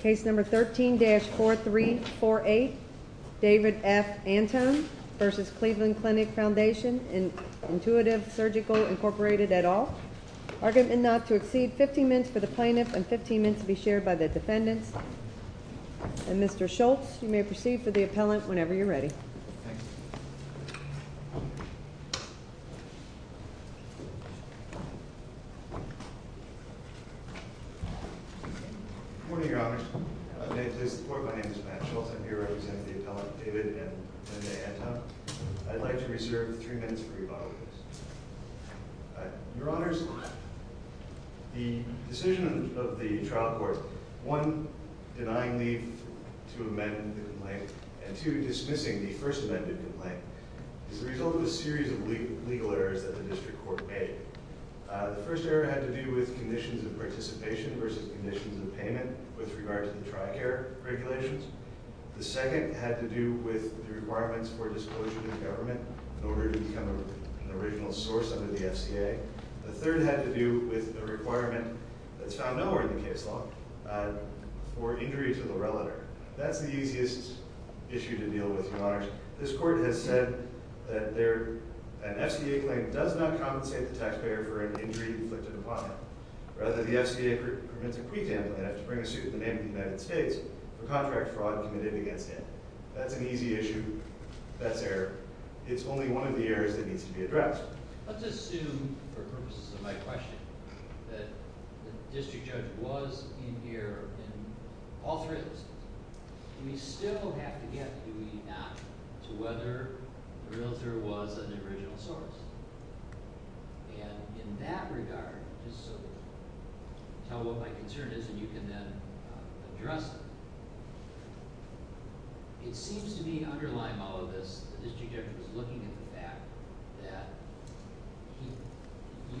Case number 13-4348 David F. Antoon v. Cleveland Clinic Foundation Intuitive Surgical Incorporated, et al. Argument not to exceed 15 minutes for the plaintiff and 15 minutes to be shared by the defendants. And Mr. Schultz, you may proceed for the appellant whenever you're ready. Good morning, Your Honors. May it please the Court, my name is Matt Schultz. I'm here representing the appellant, David N. Antoon. I'd like to reserve three minutes for rebuttals. Your Honors, the decision of the trial court, one, denying leave to amend the complaint, and two, dismissing the first amended complaint, is the result of a series of legal errors that the district court made. The first error had to do with conditions of participation versus conditions of payment with regard to the TRICARE regulations. The second had to do with the requirements for disclosure to the government in order to become an original source under the FCA. The third had to do with the requirement that's found nowhere in the case law for injury to the relator. That's the easiest issue to deal with, Your Honors. This Court has said that an FCA claim does not compensate the taxpayer for an injury inflicted upon him. Rather, the FCA permits a pre-trial plaintiff to bring a suit in the name of the United States for contract fraud committed against him. That's an easy issue. That's error. It's only one of the errors that needs to be addressed. Let's assume, for purposes of my question, that the district judge was in here in all three of those cases. Do we still have to get, do we not, to whether the realtor was an original source? And in that regard, just so you can tell what my concern is and you can then address it, it seems to me underlying all of this that this district judge was looking at the fact that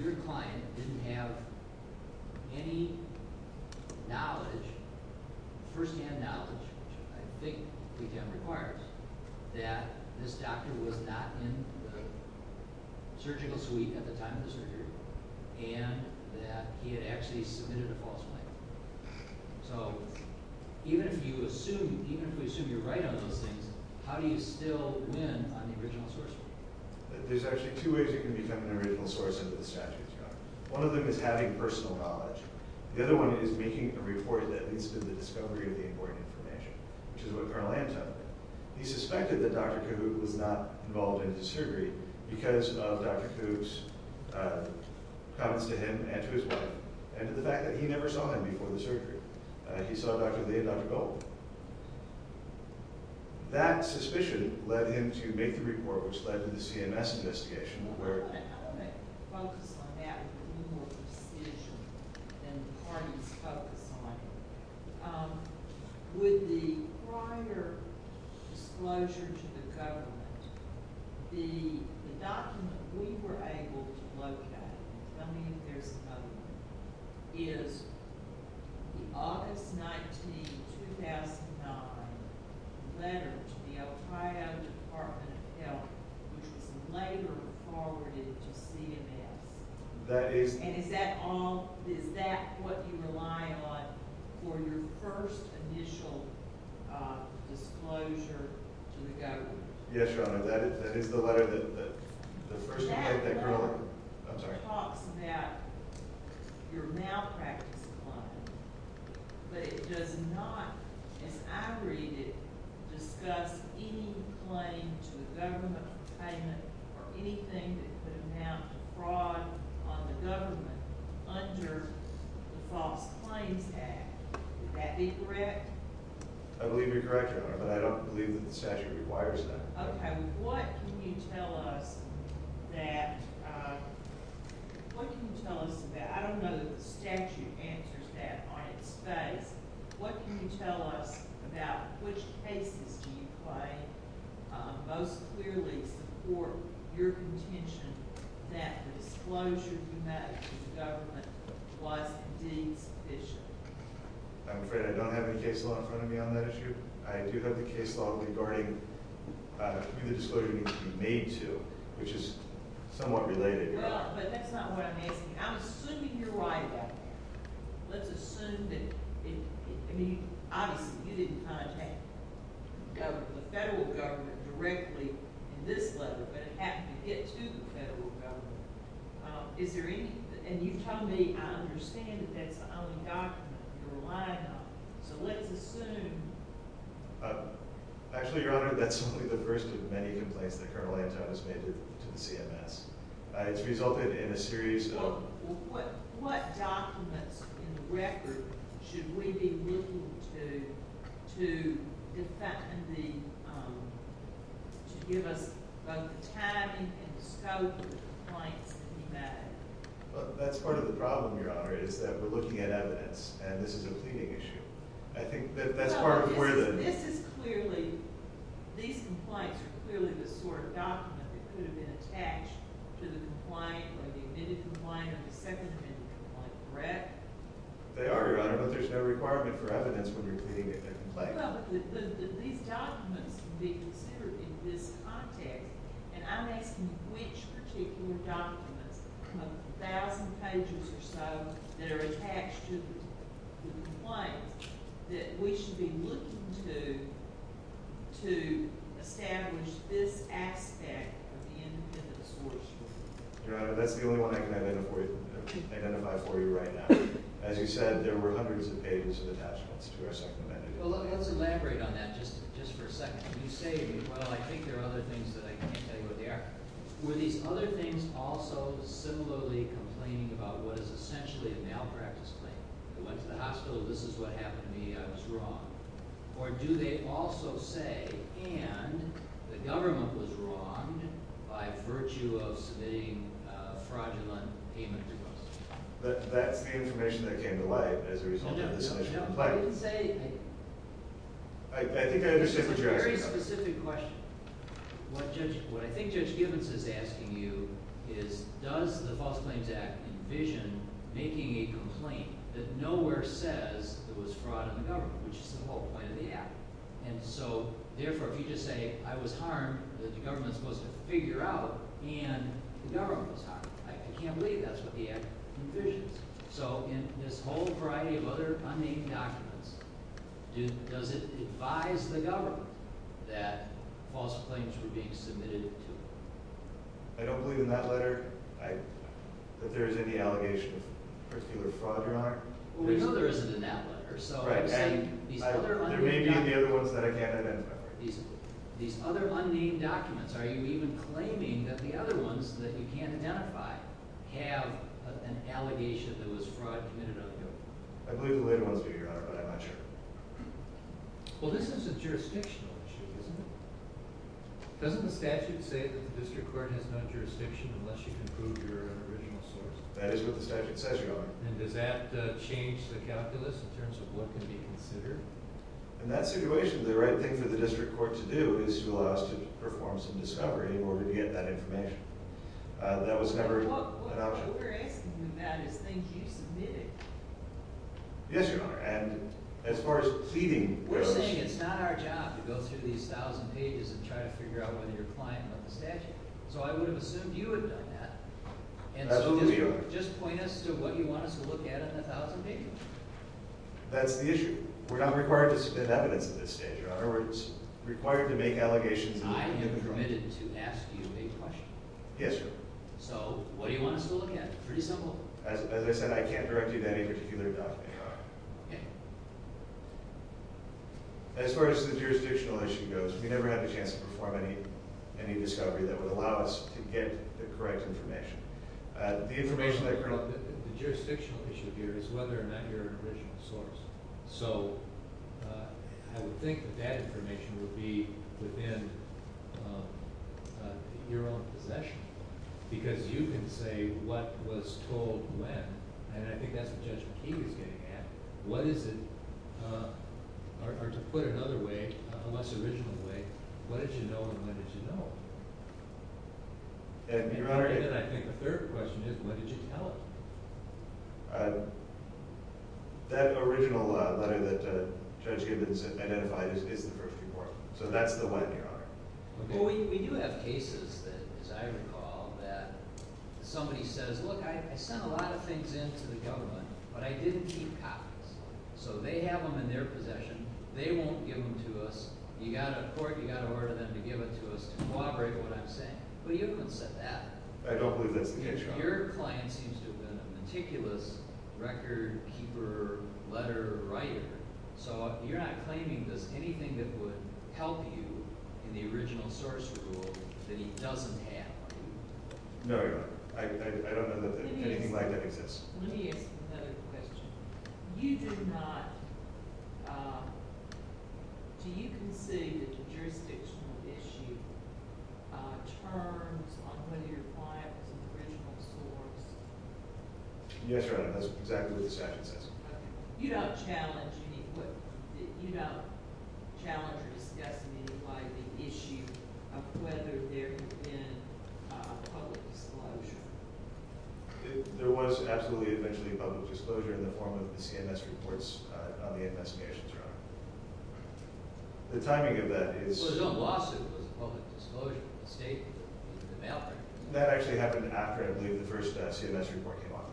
your client didn't have any knowledge, first-hand knowledge, which I think we can require, that this doctor was not in the surgical suite at the time of the surgery and that he had actually submitted a false claim. So even if you assume, even if we assume you're right on those things, how do you still win on the original source? There's actually two ways you can become an original source under the statutes, Your Honor. One of them is having personal knowledge. The other one is making a report that leads to the discovery of the important information, which is what Colonel Ann told me. He suspected that Dr. Cahoot was not involved in the surgery because of Dr. Cahoot's comments to him and to his wife and to the fact that he never saw him before the surgery. He saw Dr. Lee and Dr. Gold. That suspicion led him to make the report, which led to the CMS investigation, where— I want to focus on that with more precision than the parties focus on. With the prior disclosure to the government, the document we were able to locate— tell me if there's another one— is the August 19, 2009 letter to the El Trino Department of Health, which was later forwarded to CMS. Is that what you rely on for your first initial disclosure to the government? Yes, Your Honor. That is the letter that the first— That letter talks about your malpractice claim, but it does not, as I read it, discuss any claim to a government payment or anything that could amount to fraud on the government under the False Claims Act. Would that be correct? I believe you're correct, Your Honor, but I don't believe that the statute requires that. Okay. What can you tell us about— I don't know that the statute answers that on its face. What can you tell us about which cases do you claim most clearly support your contention that the disclosure you made to the government was indeed sufficient? I'm afraid I don't have any case law in front of me on that issue. I do have the case law regarding who the disclosure needs to be made to, which is somewhat related. Well, but that's not what I'm asking. I'm assuming you're right about that. Let's assume that—I mean, obviously, you didn't contact the federal government directly in this letter, but it happened to get to the federal government. Is there any—and you've told me, I understand that that's the only document you're relying on. So let's assume— Actually, Your Honor, that's only the first of many complaints that Colonel Anton has made to the CMS. It's resulted in a series of— Well, what documents in the record should we be looking to defend the—to give us both the timing and the scope of the complaints that he made? Well, that's part of the problem, Your Honor, is that we're looking at evidence, and this is a pleading issue. I think that that's part of where the— So this is clearly—these complaints are clearly the sort of document that could have been attached to the complaint or the admitted complaint or the second admitted complaint, correct? They are, Your Honor, but there's no requirement for evidence when you're pleading a complaint. These documents can be considered in this context, and I'm asking which particular documents, a thousand pages or so, that are attached to the complaint that we should be looking to to establish this aspect of the independent source? Your Honor, that's the only one I can identify for you right now. As you said, there were hundreds of pages of attachments to our second admitted. Well, let's elaborate on that just for a second. You say, well, I think there are other things that I can't tell you what they are. Were these other things also similarly complaining about what is essentially a malpractice claim? I went to the hospital. This is what happened to me. I was wrong. Or do they also say, and the government was wrong by virtue of submitting a fraudulent payment request? That's the information that came to light as a result of this issue. I think I understand what you're asking about. It's a very specific question. What I think Judge Gibbons is asking you is does the False Claims Act envision making a complaint that nowhere says there was fraud in the government, which is the whole point of the act? And so, therefore, if you just say I was harmed that the government is supposed to figure out and the government was harmed. I can't believe that's what the act envisions. So in this whole variety of other unnamed documents, does it advise the government that false claims were being submitted to it? I don't believe in that letter that there is any allegation of particular fraud, Your Honor. Well, we know there isn't in that letter. There may be the other ones that I can't identify. These other unnamed documents, are you even claiming that the other ones that you can't identify have an allegation that was fraud committed on them? I believe the later ones do, Your Honor, but I'm not sure. Well, this is a jurisdictional issue, isn't it? Doesn't the statute say that the district court has no jurisdiction unless you can prove you're an original source? That is what the statute says, Your Honor. And does that change the calculus in terms of what can be considered? In that situation, the right thing for the district court to do is to allow us to perform some discovery in order to get that information. That was never an option. What we're asking you, Matt, is think you submitted it. Yes, Your Honor, and as far as pleading where it was submitted. We're saying it's not our job to go through these 1,000 pages and try to figure out whether you're a client of the statute. So I would have assumed you would have done that. That's who we are. And so just point us to what you want us to look at in the 1,000 pages. That's the issue. We're not required to submit evidence at this stage, Your Honor. We're required to make allegations. I am permitted to ask you a question. Yes, Your Honor. So what do you want us to look at? Pretty simple. As I said, I can't direct you to any particular document, Your Honor. Okay. As far as the jurisdictional issue goes, we never had the chance to perform any discovery that would allow us to get the correct information. The information I currently have. The jurisdictional issue here is whether or not you're an original source. So I would think that that information would be within your own possession. Because you can say what was told when, and I think that's the judgment he was getting at. What is it, or to put it another way, a less original way, what did you know and when did you know? And I think the third question is, when did you tell him? That original letter that Judge Gibbons identified is the first report. So that's the when, Your Honor. Well, we do have cases that, as I recall, that somebody says, look, I sent a lot of things in to the government, but I didn't keep copies. So they have them in their possession. They won't give them to us. You've got to court, you've got to order them to give it to us to corroborate what I'm saying. But you haven't said that. I don't believe that's the case, Your Honor. Your client seems to have been a meticulous record-keeper, letter-writer. So you're not claiming, does anything that would help you in the original source rule that he doesn't have? No, Your Honor. I don't know that anything like that exists. Let me ask another question. You do not—do you concede that the jurisdictional issue turns on whether your client was an original source? Yes, Your Honor. That's exactly what the statute says. Okay. You don't challenge any—you don't challenge or discuss in any way the issue of whether there had been a public disclosure? There was absolutely eventually a public disclosure in the form of the CMS reports on the investigations, Your Honor. The timing of that is— Well, the lawsuit was a public disclosure. The statement was in the mail. That actually happened after, I believe, the first CMS report came out,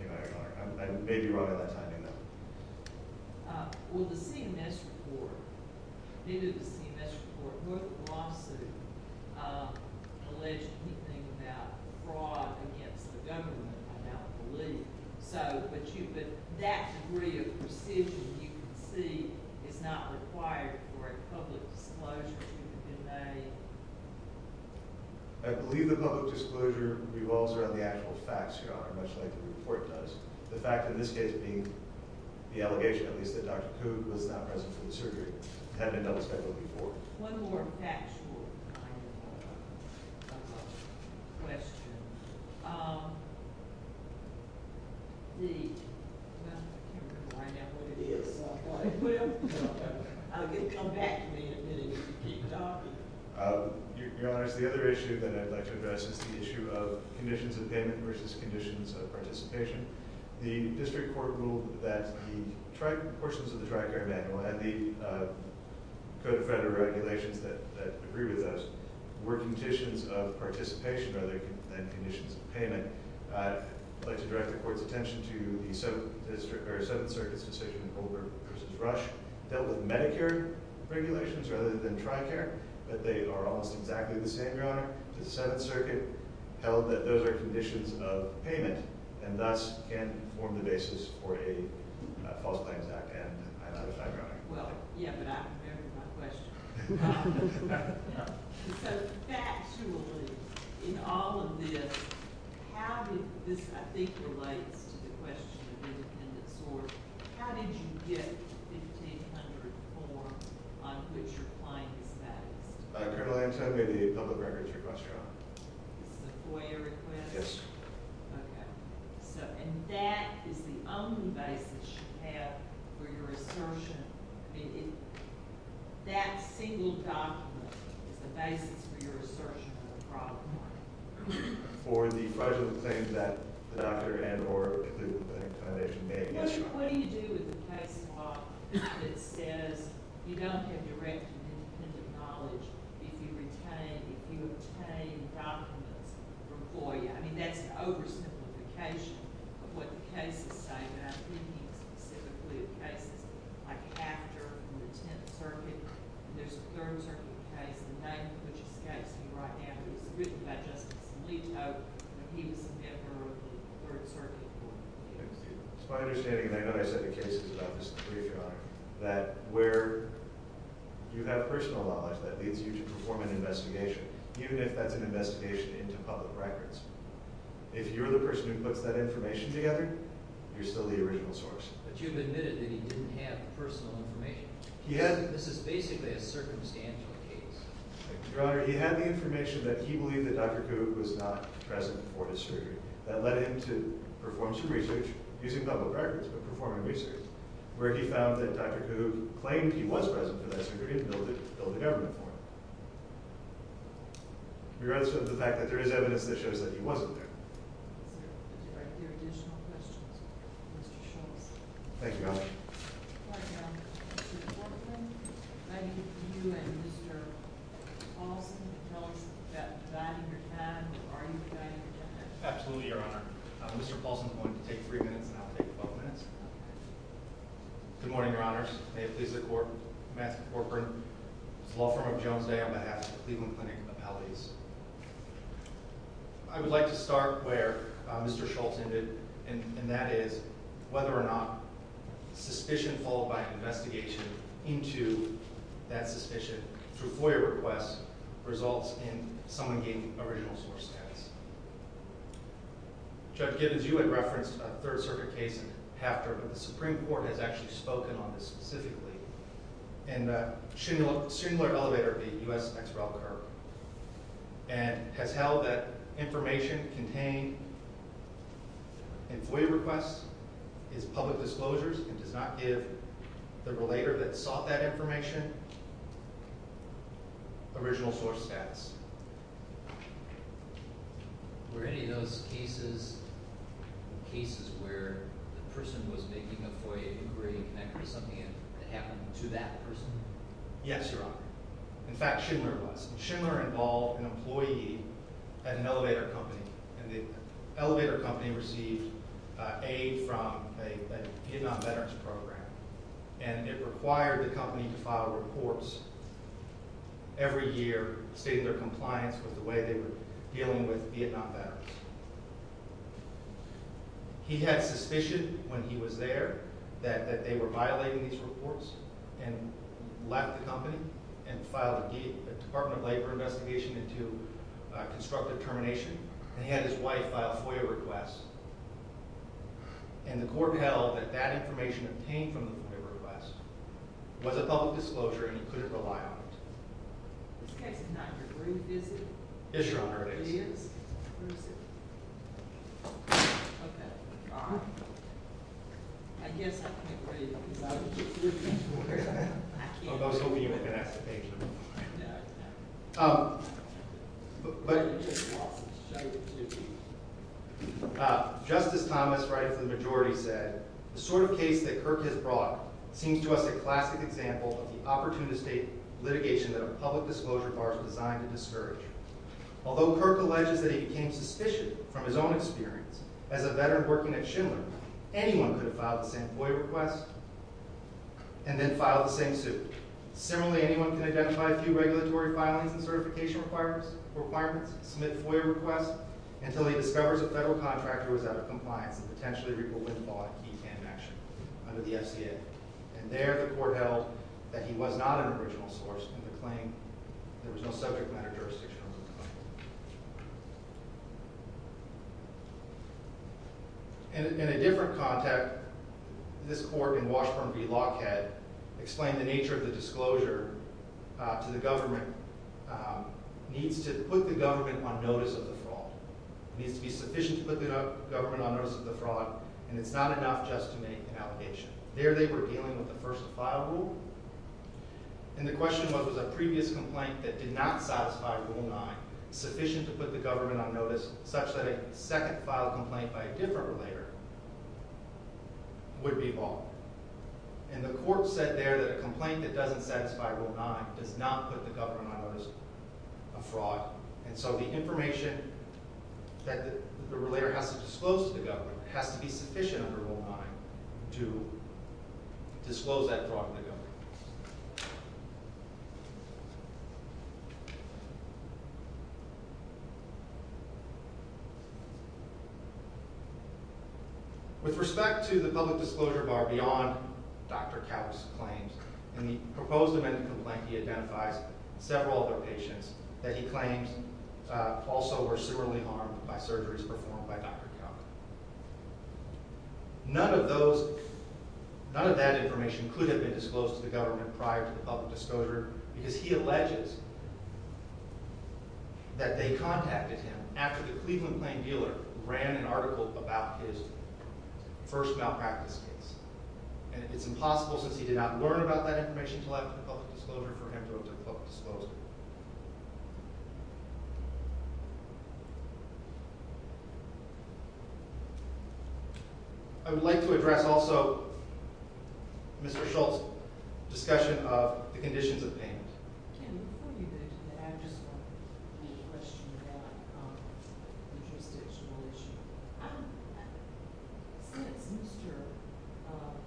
Your Honor. I may be wrong on that timing, though. Well, the CMS report—in the CMS report, both the lawsuit alleged anything about fraud against the government, I now believe. So—but you—but that degree of precision, you can see, is not required for a public disclosure to have been made. I believe the public disclosure revolves around the actual facts, Your Honor, much like the report does. The fact, in this case, being the allegation, at least, that Dr. Coog was not present for the surgery had been double-specified before. One more factual kind of question. The—well, I can't remember right now what it is. Well, come back to me in a minute if you keep talking. Your Honor, it's the other issue that I'd like to address. It's the issue of conditions of payment versus conditions of participation. The district court ruled that the portions of the TRICARE manual and the Code of Federal Regulations that agree with those were conditions of participation rather than conditions of payment. I'd like to direct the Court's attention to the Seventh Circuit's decision in Colbert v. Rush. They dealt with Medicare regulations rather than TRICARE, but they are almost exactly the same, Your Honor. The Seventh Circuit held that those are conditions of payment and thus can form the basis for a False Claims Act. And I'm out of time, Your Honor. Well, yeah, but I have my question. So, factually, in all of this, how did—this, I think, relates to the question of independent sort. How did you get 1,500 forms on which your claim is based? This is a FOIA request? Yes. Okay. So—and that is the only basis you have for your assertion. I mean, that single document is the basis for your assertion for the fraud claim. For the fraudulent claim that the doctor and or the foundation made yesterday. What do you do with the case law that says you don't have direct and independent knowledge if you retain—if you obtain documents from FOIA? I mean, that's an oversimplification of what the cases say, but I'm thinking specifically of cases like AFTER in the Tenth Circuit. And there's a Third Circuit case, the name of which escapes me right now. It was written by Justice Alito, and he was a member of the Third Circuit board. It's my understanding—and I know I said the cases about this in the brief, Your Honor—that where you have personal knowledge, that leads you to perform an investigation. Even if that's an investigation into public records. If you're the person who puts that information together, you're still the original source. But you've admitted that he didn't have personal information. He had— This is basically a circumstantial case. Your Honor, he had the information that he believed that Dr. Kuhb was not present for his surgery. That led him to perform some research—using public records, but performing research—where he found that Dr. Kuhb claimed he was present for that surgery and billed the government for it. Your answer to the fact that there is evidence that shows that he wasn't there. Thank you, Your Honor. Absolutely, Your Honor. Mr. Paulson is going to take three minutes, and I'll take 12 minutes. Good morning, Your Honors. May it please the Court, Matthew Corcoran, law firm of Jones Day, on behalf of Cleveland Clinic Appellees. I would like to start where Mr. Schultz ended, and that is whether or not suspicion followed by investigation into that suspicion through FOIA requests results in someone gaining original source status. Judge Gibbons, you had referenced a Third Circuit case after, but the Supreme Court has actually spoken on this specifically in the Schindler Elevator v. U.S. X. Rel. Curb, and has held that information contained in FOIA requests is public disclosures and does not give the relator that sought that information original source status. Were any of those cases cases where the person was making a FOIA inquiry connected to something that happened to that person? Yes, Your Honor. In fact, Schindler was. Schindler involved an employee at an elevator company, and the elevator company received aid from a Vietnam veterans program, and it required the company to file reports every year stating their compliance with the way they were dealing with Vietnam veterans. He had suspicion when he was there that they were violating these reports and left the company and filed a Department of Labor investigation into constructive termination. He had his wife file FOIA requests, and the court held that that information obtained from the FOIA request was a public disclosure and he couldn't rely on it. This case is not your brief, is it? It is, Your Honor. It is? Where is it? Okay. I guess I can't read it because I don't have proof. I was hoping you would ask the page number. Um, but... Justice Thomas, right of the majority, said, The sort of case that Kirk has brought seems to us a classic example of the opportunistic litigation that a public disclosure bar is designed to discourage. Although Kirk alleges that he became suspicious from his own experience as a veteran working at Schindler, anyone could have filed the same FOIA request and then filed the same suit. Similarly, anyone can identify a few regulatory filings and certification requirements, submit FOIA requests, until he discovers a federal contractor was out of compliance and potentially reported in law to keep him in action under the FCA. And there, the court held that he was not an original source in the claim. There was no subject matter jurisdiction under the claim. In a different context, this court in Washburn v. Lockhead explained the nature of the disclosure to the government. It needs to put the government on notice of the fraud. It needs to be sufficient to put the government on notice of the fraud, and it's not enough just to make an allegation. There, they were dealing with the first file rule. And the question was, was a previous complaint that did not satisfy Rule 9 sufficient to put the government on notice, such that a second file complaint by a different relator would be bought? And the court said there that a complaint that doesn't satisfy Rule 9 does not put the government on notice of fraud. And so the information that the relator has to disclose to the government has to be sufficient under Rule 9 to disclose that fraud to the government. With respect to the public disclosure bar beyond Dr. Couch's claims, in the proposed amended complaint, he identifies several other patients that he claims also were severely harmed by surgeries performed by Dr. Couch. None of that information could have been disclosed to the government prior to the public disclosure, because he alleges that they contacted him after the Cleveland Plain dealer ran an article about his first malpractice case. And it's impossible, since he did not learn about that information until after the public disclosure, for him to have disclosed it. I would like to address also Mr. Schultz's discussion of the conditions of payment. I have a question about the jurisdictional issue. Since Mr.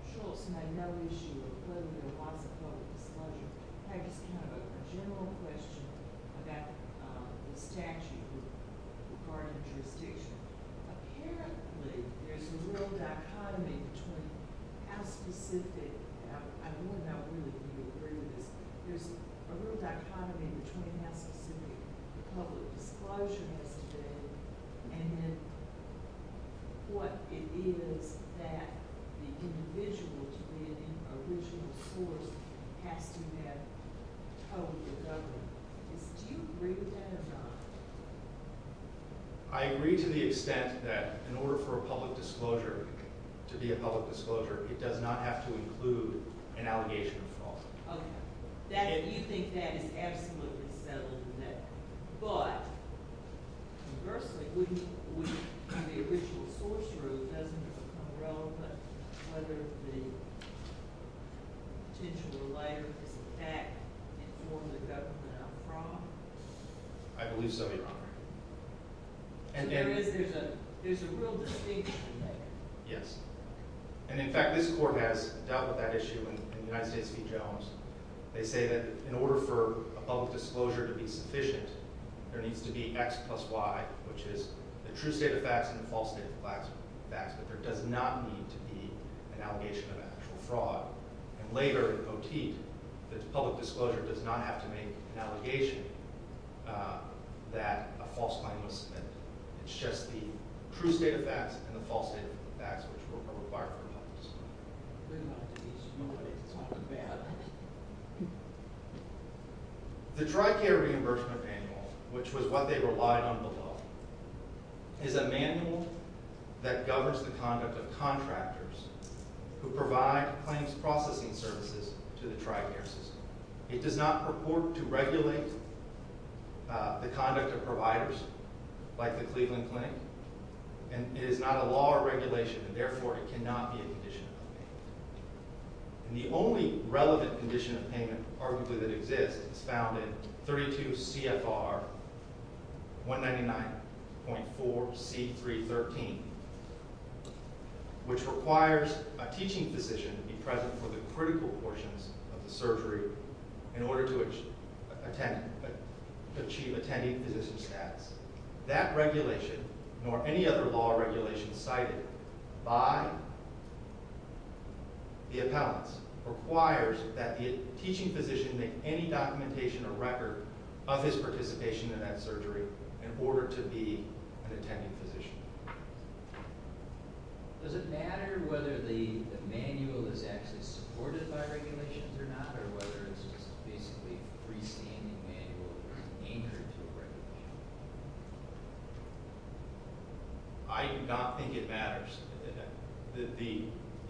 Schultz had no issue of whether there was a public disclosure, I have a general question about the statute regarding jurisdiction. Apparently, there's a real dichotomy between how specific the public disclosure has to be and what it is that the individual to be an original source has to have told the government. Do you agree with that or not? I agree to the extent that in order for a public disclosure to be a public disclosure, it does not have to include an allegation of fraud. Okay. You think that is absolutely settled then. But, conversely, wouldn't the original source rule, doesn't it become relevant whether the potential relator is in fact informed the government of fraud? I believe so, Your Honor. So there is a real distinction there? Yes. And, in fact, this Court has dealt with that issue in the United States v. Jones. They say that in order for a public disclosure to be sufficient, there needs to be X plus Y, which is the true state of facts and the false state of facts. But there does not need to be an allegation of actual fraud. And later, in Poteet, the public disclosure does not have to make an allegation that a false claim was submitted. It's just the true state of facts and the false state of facts, which are required for a public disclosure. The dry care reimbursement manual, which was what they relied on below, is a manual that governs the conduct of contractors who provide claims processing services to the dry care system. It does not purport to regulate the conduct of providers like the Cleveland Clinic. And it is not a law or regulation, and therefore it cannot be a condition of payment. And the only relevant condition of payment, arguably, that exists is found in 32 CFR 199.4C313, which requires a teaching physician to be present for the critical portions of the surgery in order to achieve attending physician status. That regulation, nor any other law or regulation cited by the appellants, requires that the teaching physician make any documentation or record of his participation in that surgery in order to be an attending physician. Does it matter whether the manual is actually supported by regulations or not, or whether it's just basically a freestanding manual anchored to a regulation? I do not think it matters.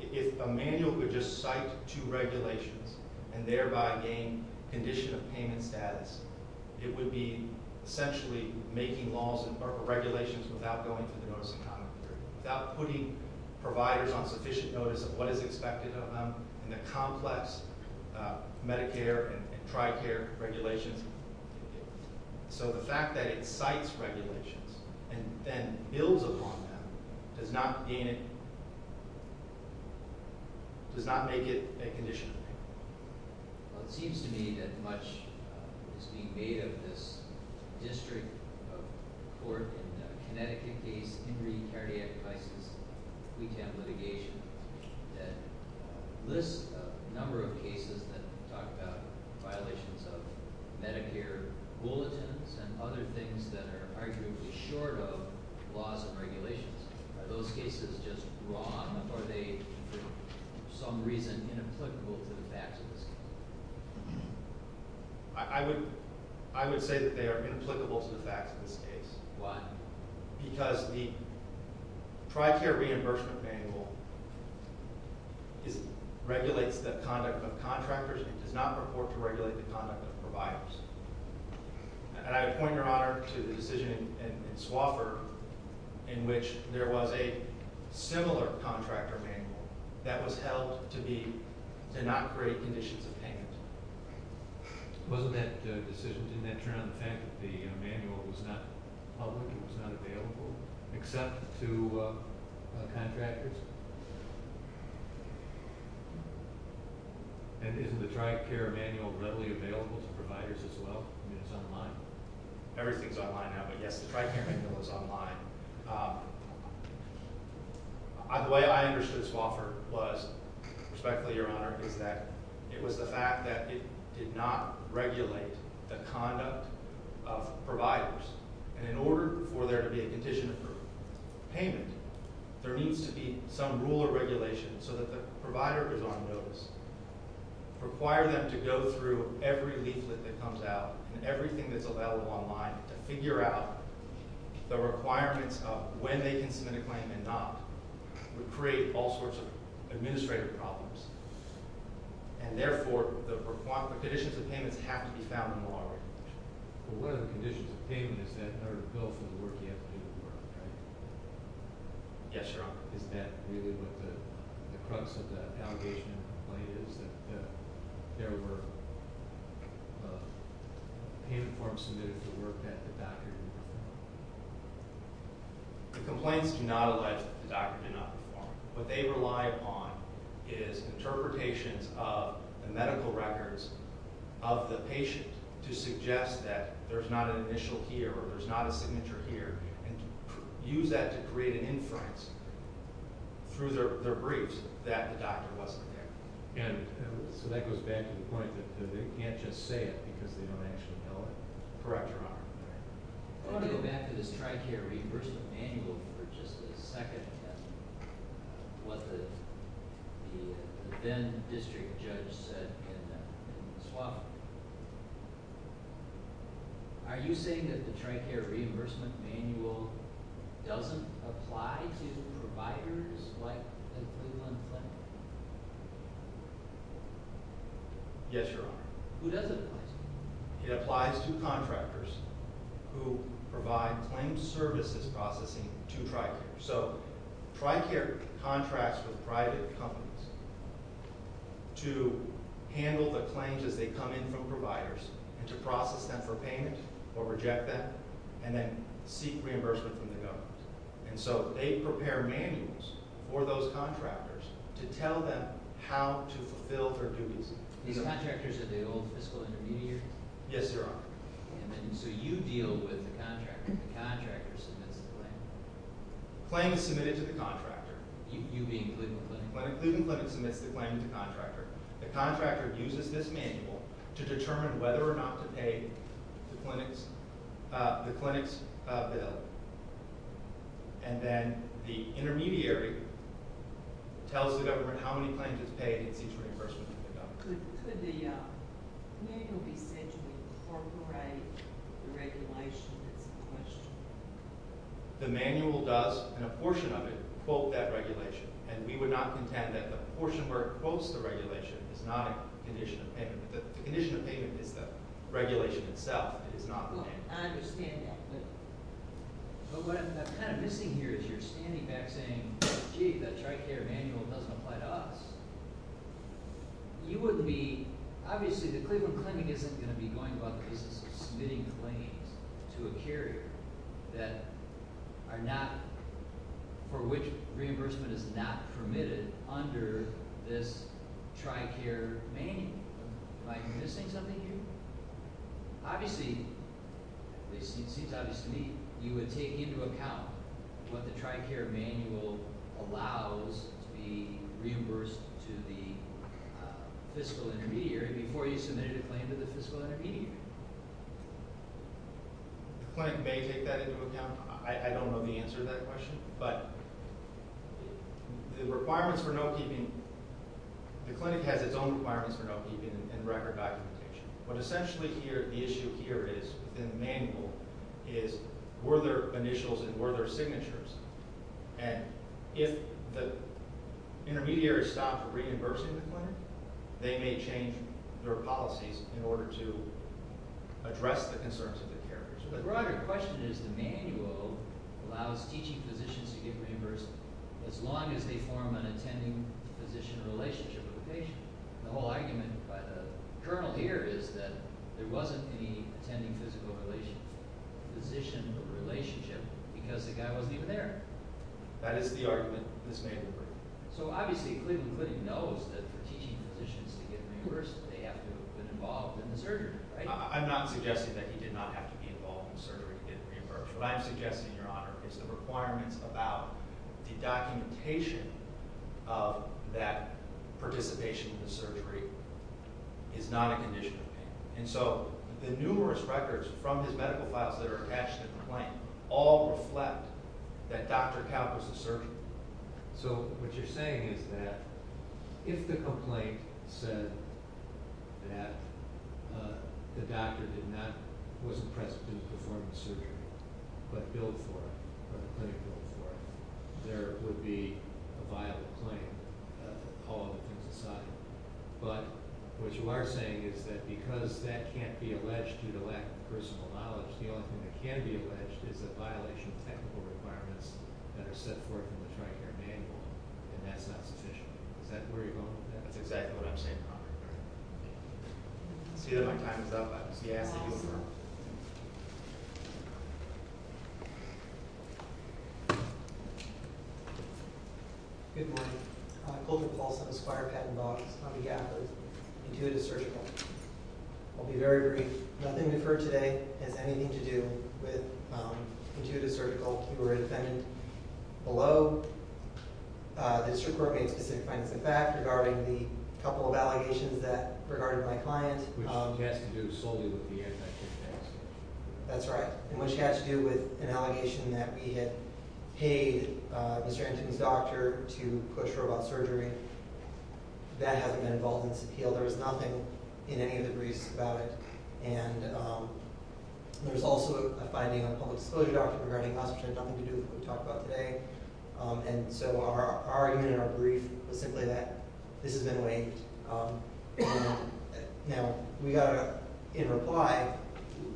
If a manual could just cite two regulations and thereby gain condition of payment status, it would be essentially making laws or regulations without going through the notice of conduct period, without putting providers on sufficient notice of what is expected of them in the complex Medicare and dry care regulations. So the fact that it cites regulations and then builds upon them does not make it a condition of payment. Well, it seems to me that much is being made of this district court in Connecticut case, Henry Cardiac Crisis, pre-temp litigation, that lists a number of cases that talk about violations of Medicare bulletins and other things that are arguably short of laws and regulations. Are those cases just wrong, or are they, for some reason, inapplicable to the facts of this case? I would say that they are inapplicable to the facts of this case. Why? Because the dry care reimbursement manual regulates the conduct of contractors and does not purport to regulate the conduct of providers. And I point, Your Honor, to the decision in Swofford in which there was a similar contractor manual that was held to not create conditions of payment. Wasn't that decision to not turn on the fact that the manual was not public, it was not available, except to contractors? And isn't the dry care manual readily available to providers as well? I mean, it's online. Everything's online now, but yes, the dry care manual is online. The way I understood Swofford was, respectfully, Your Honor, is that it was the fact that it did not regulate the conduct of providers. And in order for there to be a condition of payment, there needs to be some rule or regulation so that the provider is on notice. Require them to go through every leaflet that comes out and everything that's available online to figure out the requirements of when they can submit a claim and not would create all sorts of administrative problems. And therefore, the conditions of payments have to be found in the law. But one of the conditions of payment is that in order to go through the work, you have to do the work, right? Yes, Your Honor. Is that really what the crux of the allegation in the complaint is, that there were payment forms submitted for work that the doctor did not perform? The complaints do not allege that the doctor did not perform. What they rely upon is interpretations of the medical records of the patient to suggest that there's not an initial here or there's not a signature here and use that to create an inference through their briefs that the doctor wasn't there. And so that goes back to the point that they can't just say it because they don't actually know it. Correct, Your Honor. I want to go back to this TRICARE reimbursement manual for just a second and what the then district judge said in the swap. Are you saying that the TRICARE reimbursement manual doesn't apply to providers like the Cleveland Clinic? Yes, Your Honor. Who does it apply to? It applies to contractors who provide claims services processing to TRICARE. So TRICARE contracts with private companies to handle the claims as they come in from providers and to process them for payment or reject them and then seek reimbursement from the government. And so they prepare manuals for those contractors to tell them how to fulfill their duties. These contractors are the old fiscal intermediaries? Yes, Your Honor. So you deal with the contractor and the contractor submits the claim? The claim is submitted to the contractor. You being Cleveland Clinic? Cleveland Clinic submits the claim to the contractor. The contractor uses this manual to determine whether or not to pay the clinic's bill and then the intermediary tells the government how many claims it's paid and seeks reimbursement from the government. Could the manual be said to incorporate the regulation that's in question? The manual does, and a portion of it, quote that regulation. And we would not contend that the portion where it quotes the regulation is not a condition of payment. The condition of payment is the regulation itself. I understand that. But what I'm kind of missing here is you're standing back saying, gee, that TRICARE manual doesn't apply to us. You would be, obviously the Cleveland Clinic isn't going to be going about the business of submitting claims to a carrier that are not, for which reimbursement is not permitted under this TRICARE manual. Am I missing something here? Obviously, it seems obvious to me, you would take into account what the TRICARE manual allows to be reimbursed to the fiscal intermediary before you submitted a claim to the fiscal intermediary. The clinic may take that into account. I don't know the answer to that question, but the requirements for note-keeping, the clinic has its own requirements for note-keeping and record documentation. Essentially here, the issue here is, within the manual, is were there initials and were there signatures? And if the intermediary stopped reimbursing the clinic, they may change their policies in order to address the concerns of the carrier. The broader question is the manual allows teaching physicians to get reimbursed as long as they form an attending physician relationship with the patient. The whole argument by the journal here is that there wasn't any attending physician relationship because the guy wasn't even there. That is the argument. This may be correct. So obviously, Cleveland Clinic knows that for teaching physicians to get reimbursed, they have to have been involved in the surgery, right? I'm not suggesting that he did not have to be involved in the surgery to get reimbursed. What I'm suggesting, Your Honor, is the requirements about the documentation of that participation in the surgery is not a condition of pain. And so the numerous records from his medical files that are attached to the complaint all reflect that Dr. Cal was a surgeon. So what you're saying is that if the complaint said that the doctor wasn't present in the performance surgery, but billed for it, or the clinic billed for it, there would be a violent claim. All other things aside, but what you are saying is that because that can't be alleged due to lack of personal knowledge, the only thing that can be alleged is a violation of technical requirements that are set forth in the Tri-Care Manual, and that's not sufficient. Is that where you're going with that? That's exactly what I'm saying, Your Honor. I see that my time is up. I'm just going to ask you to adjourn. Good morning. I'm Colton Paulson, Aspire Patent Law, and I'm a copycat for Intuitive Surgical. I'll be very brief. Nothing referred today has anything to do with Intuitive Surgical. You were a defendant below. The district court made a specific financing fact regarding the couple of allegations that regarded my client. Which has to do solely with the anti-kidnapping. That's right. And which has to do with an allegation that we had paid Mr. Anton's doctor to push robot surgery. That hasn't been involved in this appeal. There was nothing in any of the briefs about it. And there was also a finding on a public disclosure document regarding us, which had nothing to do with what we talked about today. And so our argument in our brief was simply that this has been waived. Now, in reply,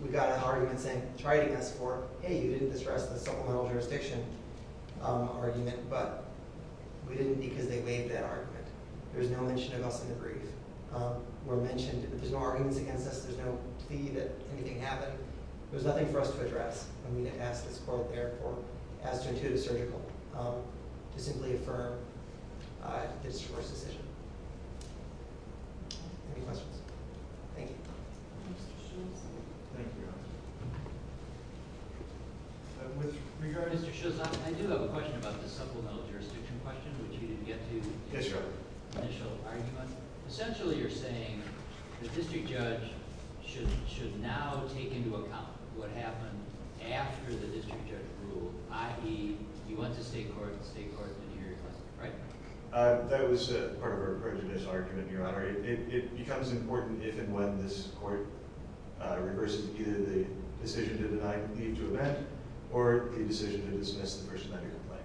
we got an argument saying, triting us for, hey, you didn't disrest the supplemental jurisdiction argument. But we didn't because they waived that argument. In fact, there's no mention of us in the brief. We're mentioned, but there's no arguments against us. There's no plea that anything happened. There's nothing for us to address. I'm going to ask this court, therefore, as to Intuitive Surgical, to simply affirm the district court's decision. Any questions? Thank you. Mr. Schultz. Thank you, Your Honor. With regard, Mr. Schultz, I do have a question about the supplemental jurisdiction question, which you didn't get to. Yes, Your Honor. Initial argument. Essentially, you're saying the district judge should now take into account what happened after the district judge ruled, i.e., you went to state court, the state court didn't hear your question, right? That was part of our prejudice argument, Your Honor. It becomes important if and when this court reverses either the decision to leave to a vet or the decision to dismiss the person on your complaint.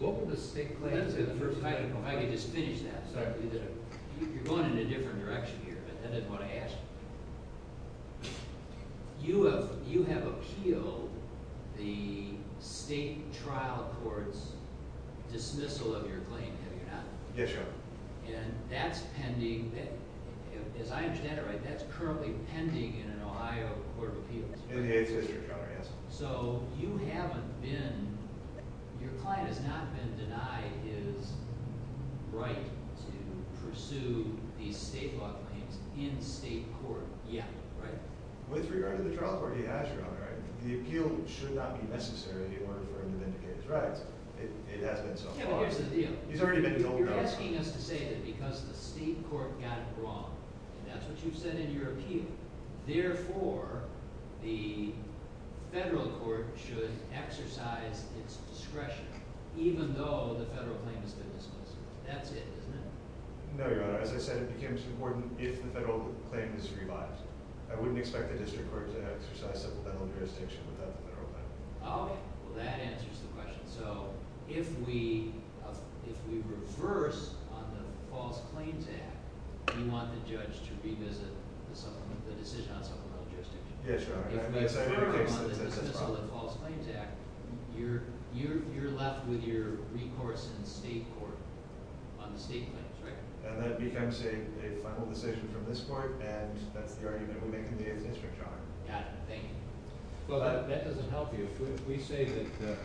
What were the state claims? If I could just finish that. You're going in a different direction here, but I didn't want to ask. You have appealed the state trial court's dismissal of your claim, have you not? Yes, Your Honor. And that's pending. As I understand it, that's currently pending in an Ohio court of appeals. In the eighth district, Your Honor, yes. So, you haven't been, your client has not been denied his right to pursue these state law claims in state court yet, right? With regard to the trial court, yes, Your Honor. The appeal should not be necessary in order for him to vindicate his rights. It has been so far. Kevin, here's the deal. He's already been told no. You're asking us to say that because the state court got it wrong, and that's what you said in your appeal. Therefore, the federal court should exercise its discretion, even though the federal claim has been dismissed. That's it, isn't it? No, Your Honor. As I said, it becomes important if the federal claim is revived. I wouldn't expect the district court to exercise civil battle jurisdiction without the federal claim. Okay. Well, that answers the question. So, if we reverse on the False Claims Act, we want the judge to revisit the decision on civil battle jurisdiction. Yes, Your Honor. If we dismiss on the False Claims Act, you're left with your recourse in state court on the state claims, right? And that becomes a final decision from this court, and that's the argument we make in the eighth district, Your Honor. Got it. Thank you. Well, that doesn't help you. If we say that the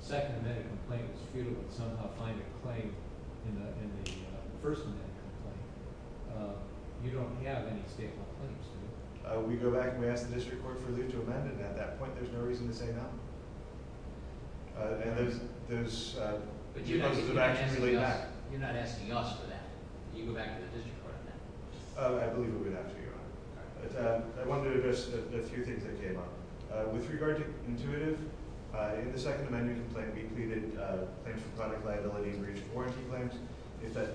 second amendment complaint is futile and somehow find a claim in the first amendment complaint, you don't have any state law claims, do you? We go back and we ask the district court for a leave to amend, and at that point, there's no reason to say no. But you're not asking us for that. You go back to the district court on that. I believe we would have to, Your Honor. I wanted to address a few things that came up. With regard to intuitive, in the second amendment complaint, we pleaded claims for product liability and breach of warranty claims. If that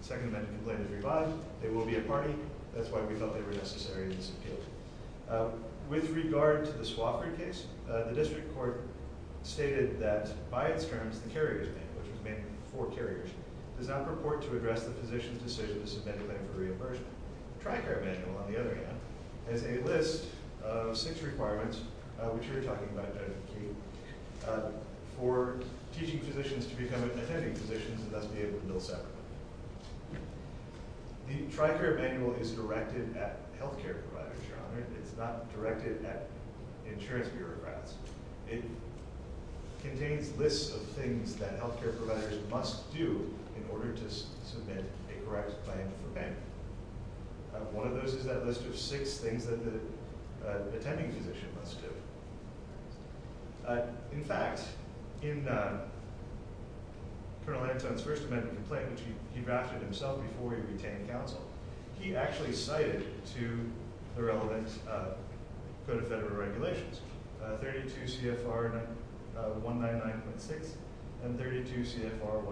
second amendment complaint is revived, they will be a party. That's why we felt they were necessary in this appeal. With regard to the Swofford case, the district court stated that by its terms, the carrier's name, which was made for carriers, does not purport to address the physician's decision to submit a claim for reimbursement. The Tricare Manual, on the other hand, has a list of six requirements, which you're talking about, Judge McKee, for teaching physicians to become attending physicians and thus be able to bill separately. The Tricare Manual is directed at health care providers, Your Honor. It's not directed at insurance bureaucrats. It contains lists of things that health care providers must do in order to submit a correct claim for payment. One of those is that list of six things that the attending physician must do. In fact, in Colonel Anton's first amendment complaint, which he drafted himself before he retained counsel, he actually cited to the relevant Code of Federal Regulations 32 CFR 199.6 and 32 CFR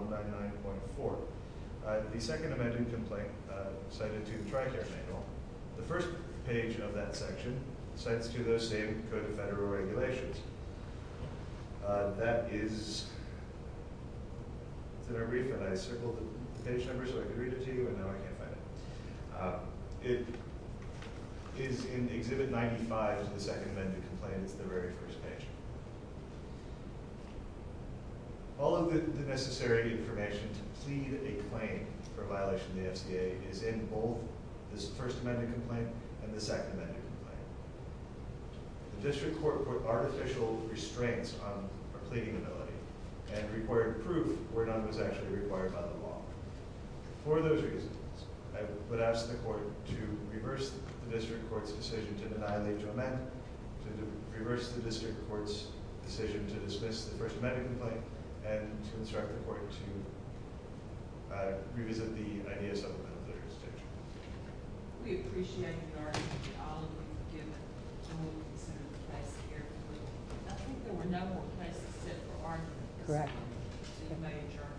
199.4. The second amendment complaint cited to the Tricare Manual, the first page of that section, cites to those same Code of Federal Regulations. That is, it's in our brief, and I circled the page number so I could read it to you, and now I can't find it. It is in Exhibit 95 of the second amendment complaint. It's the very first page. All of the necessary information to plead a claim for a violation of the FCA is in both this first amendment complaint and the second amendment complaint. The district court put artificial restraints on our pleading ability and required proof where none was actually required by the law. For those reasons, I would ask the court to reverse the district court's decision to annihilate John Madden, to reverse the district court's decision to dismiss the first amendment complaint, and to instruct the court to revisit the idea of supplemental litigation. We appreciate the argument you all have given. I think there were no more places set for argument. Correct. So you may adjourn.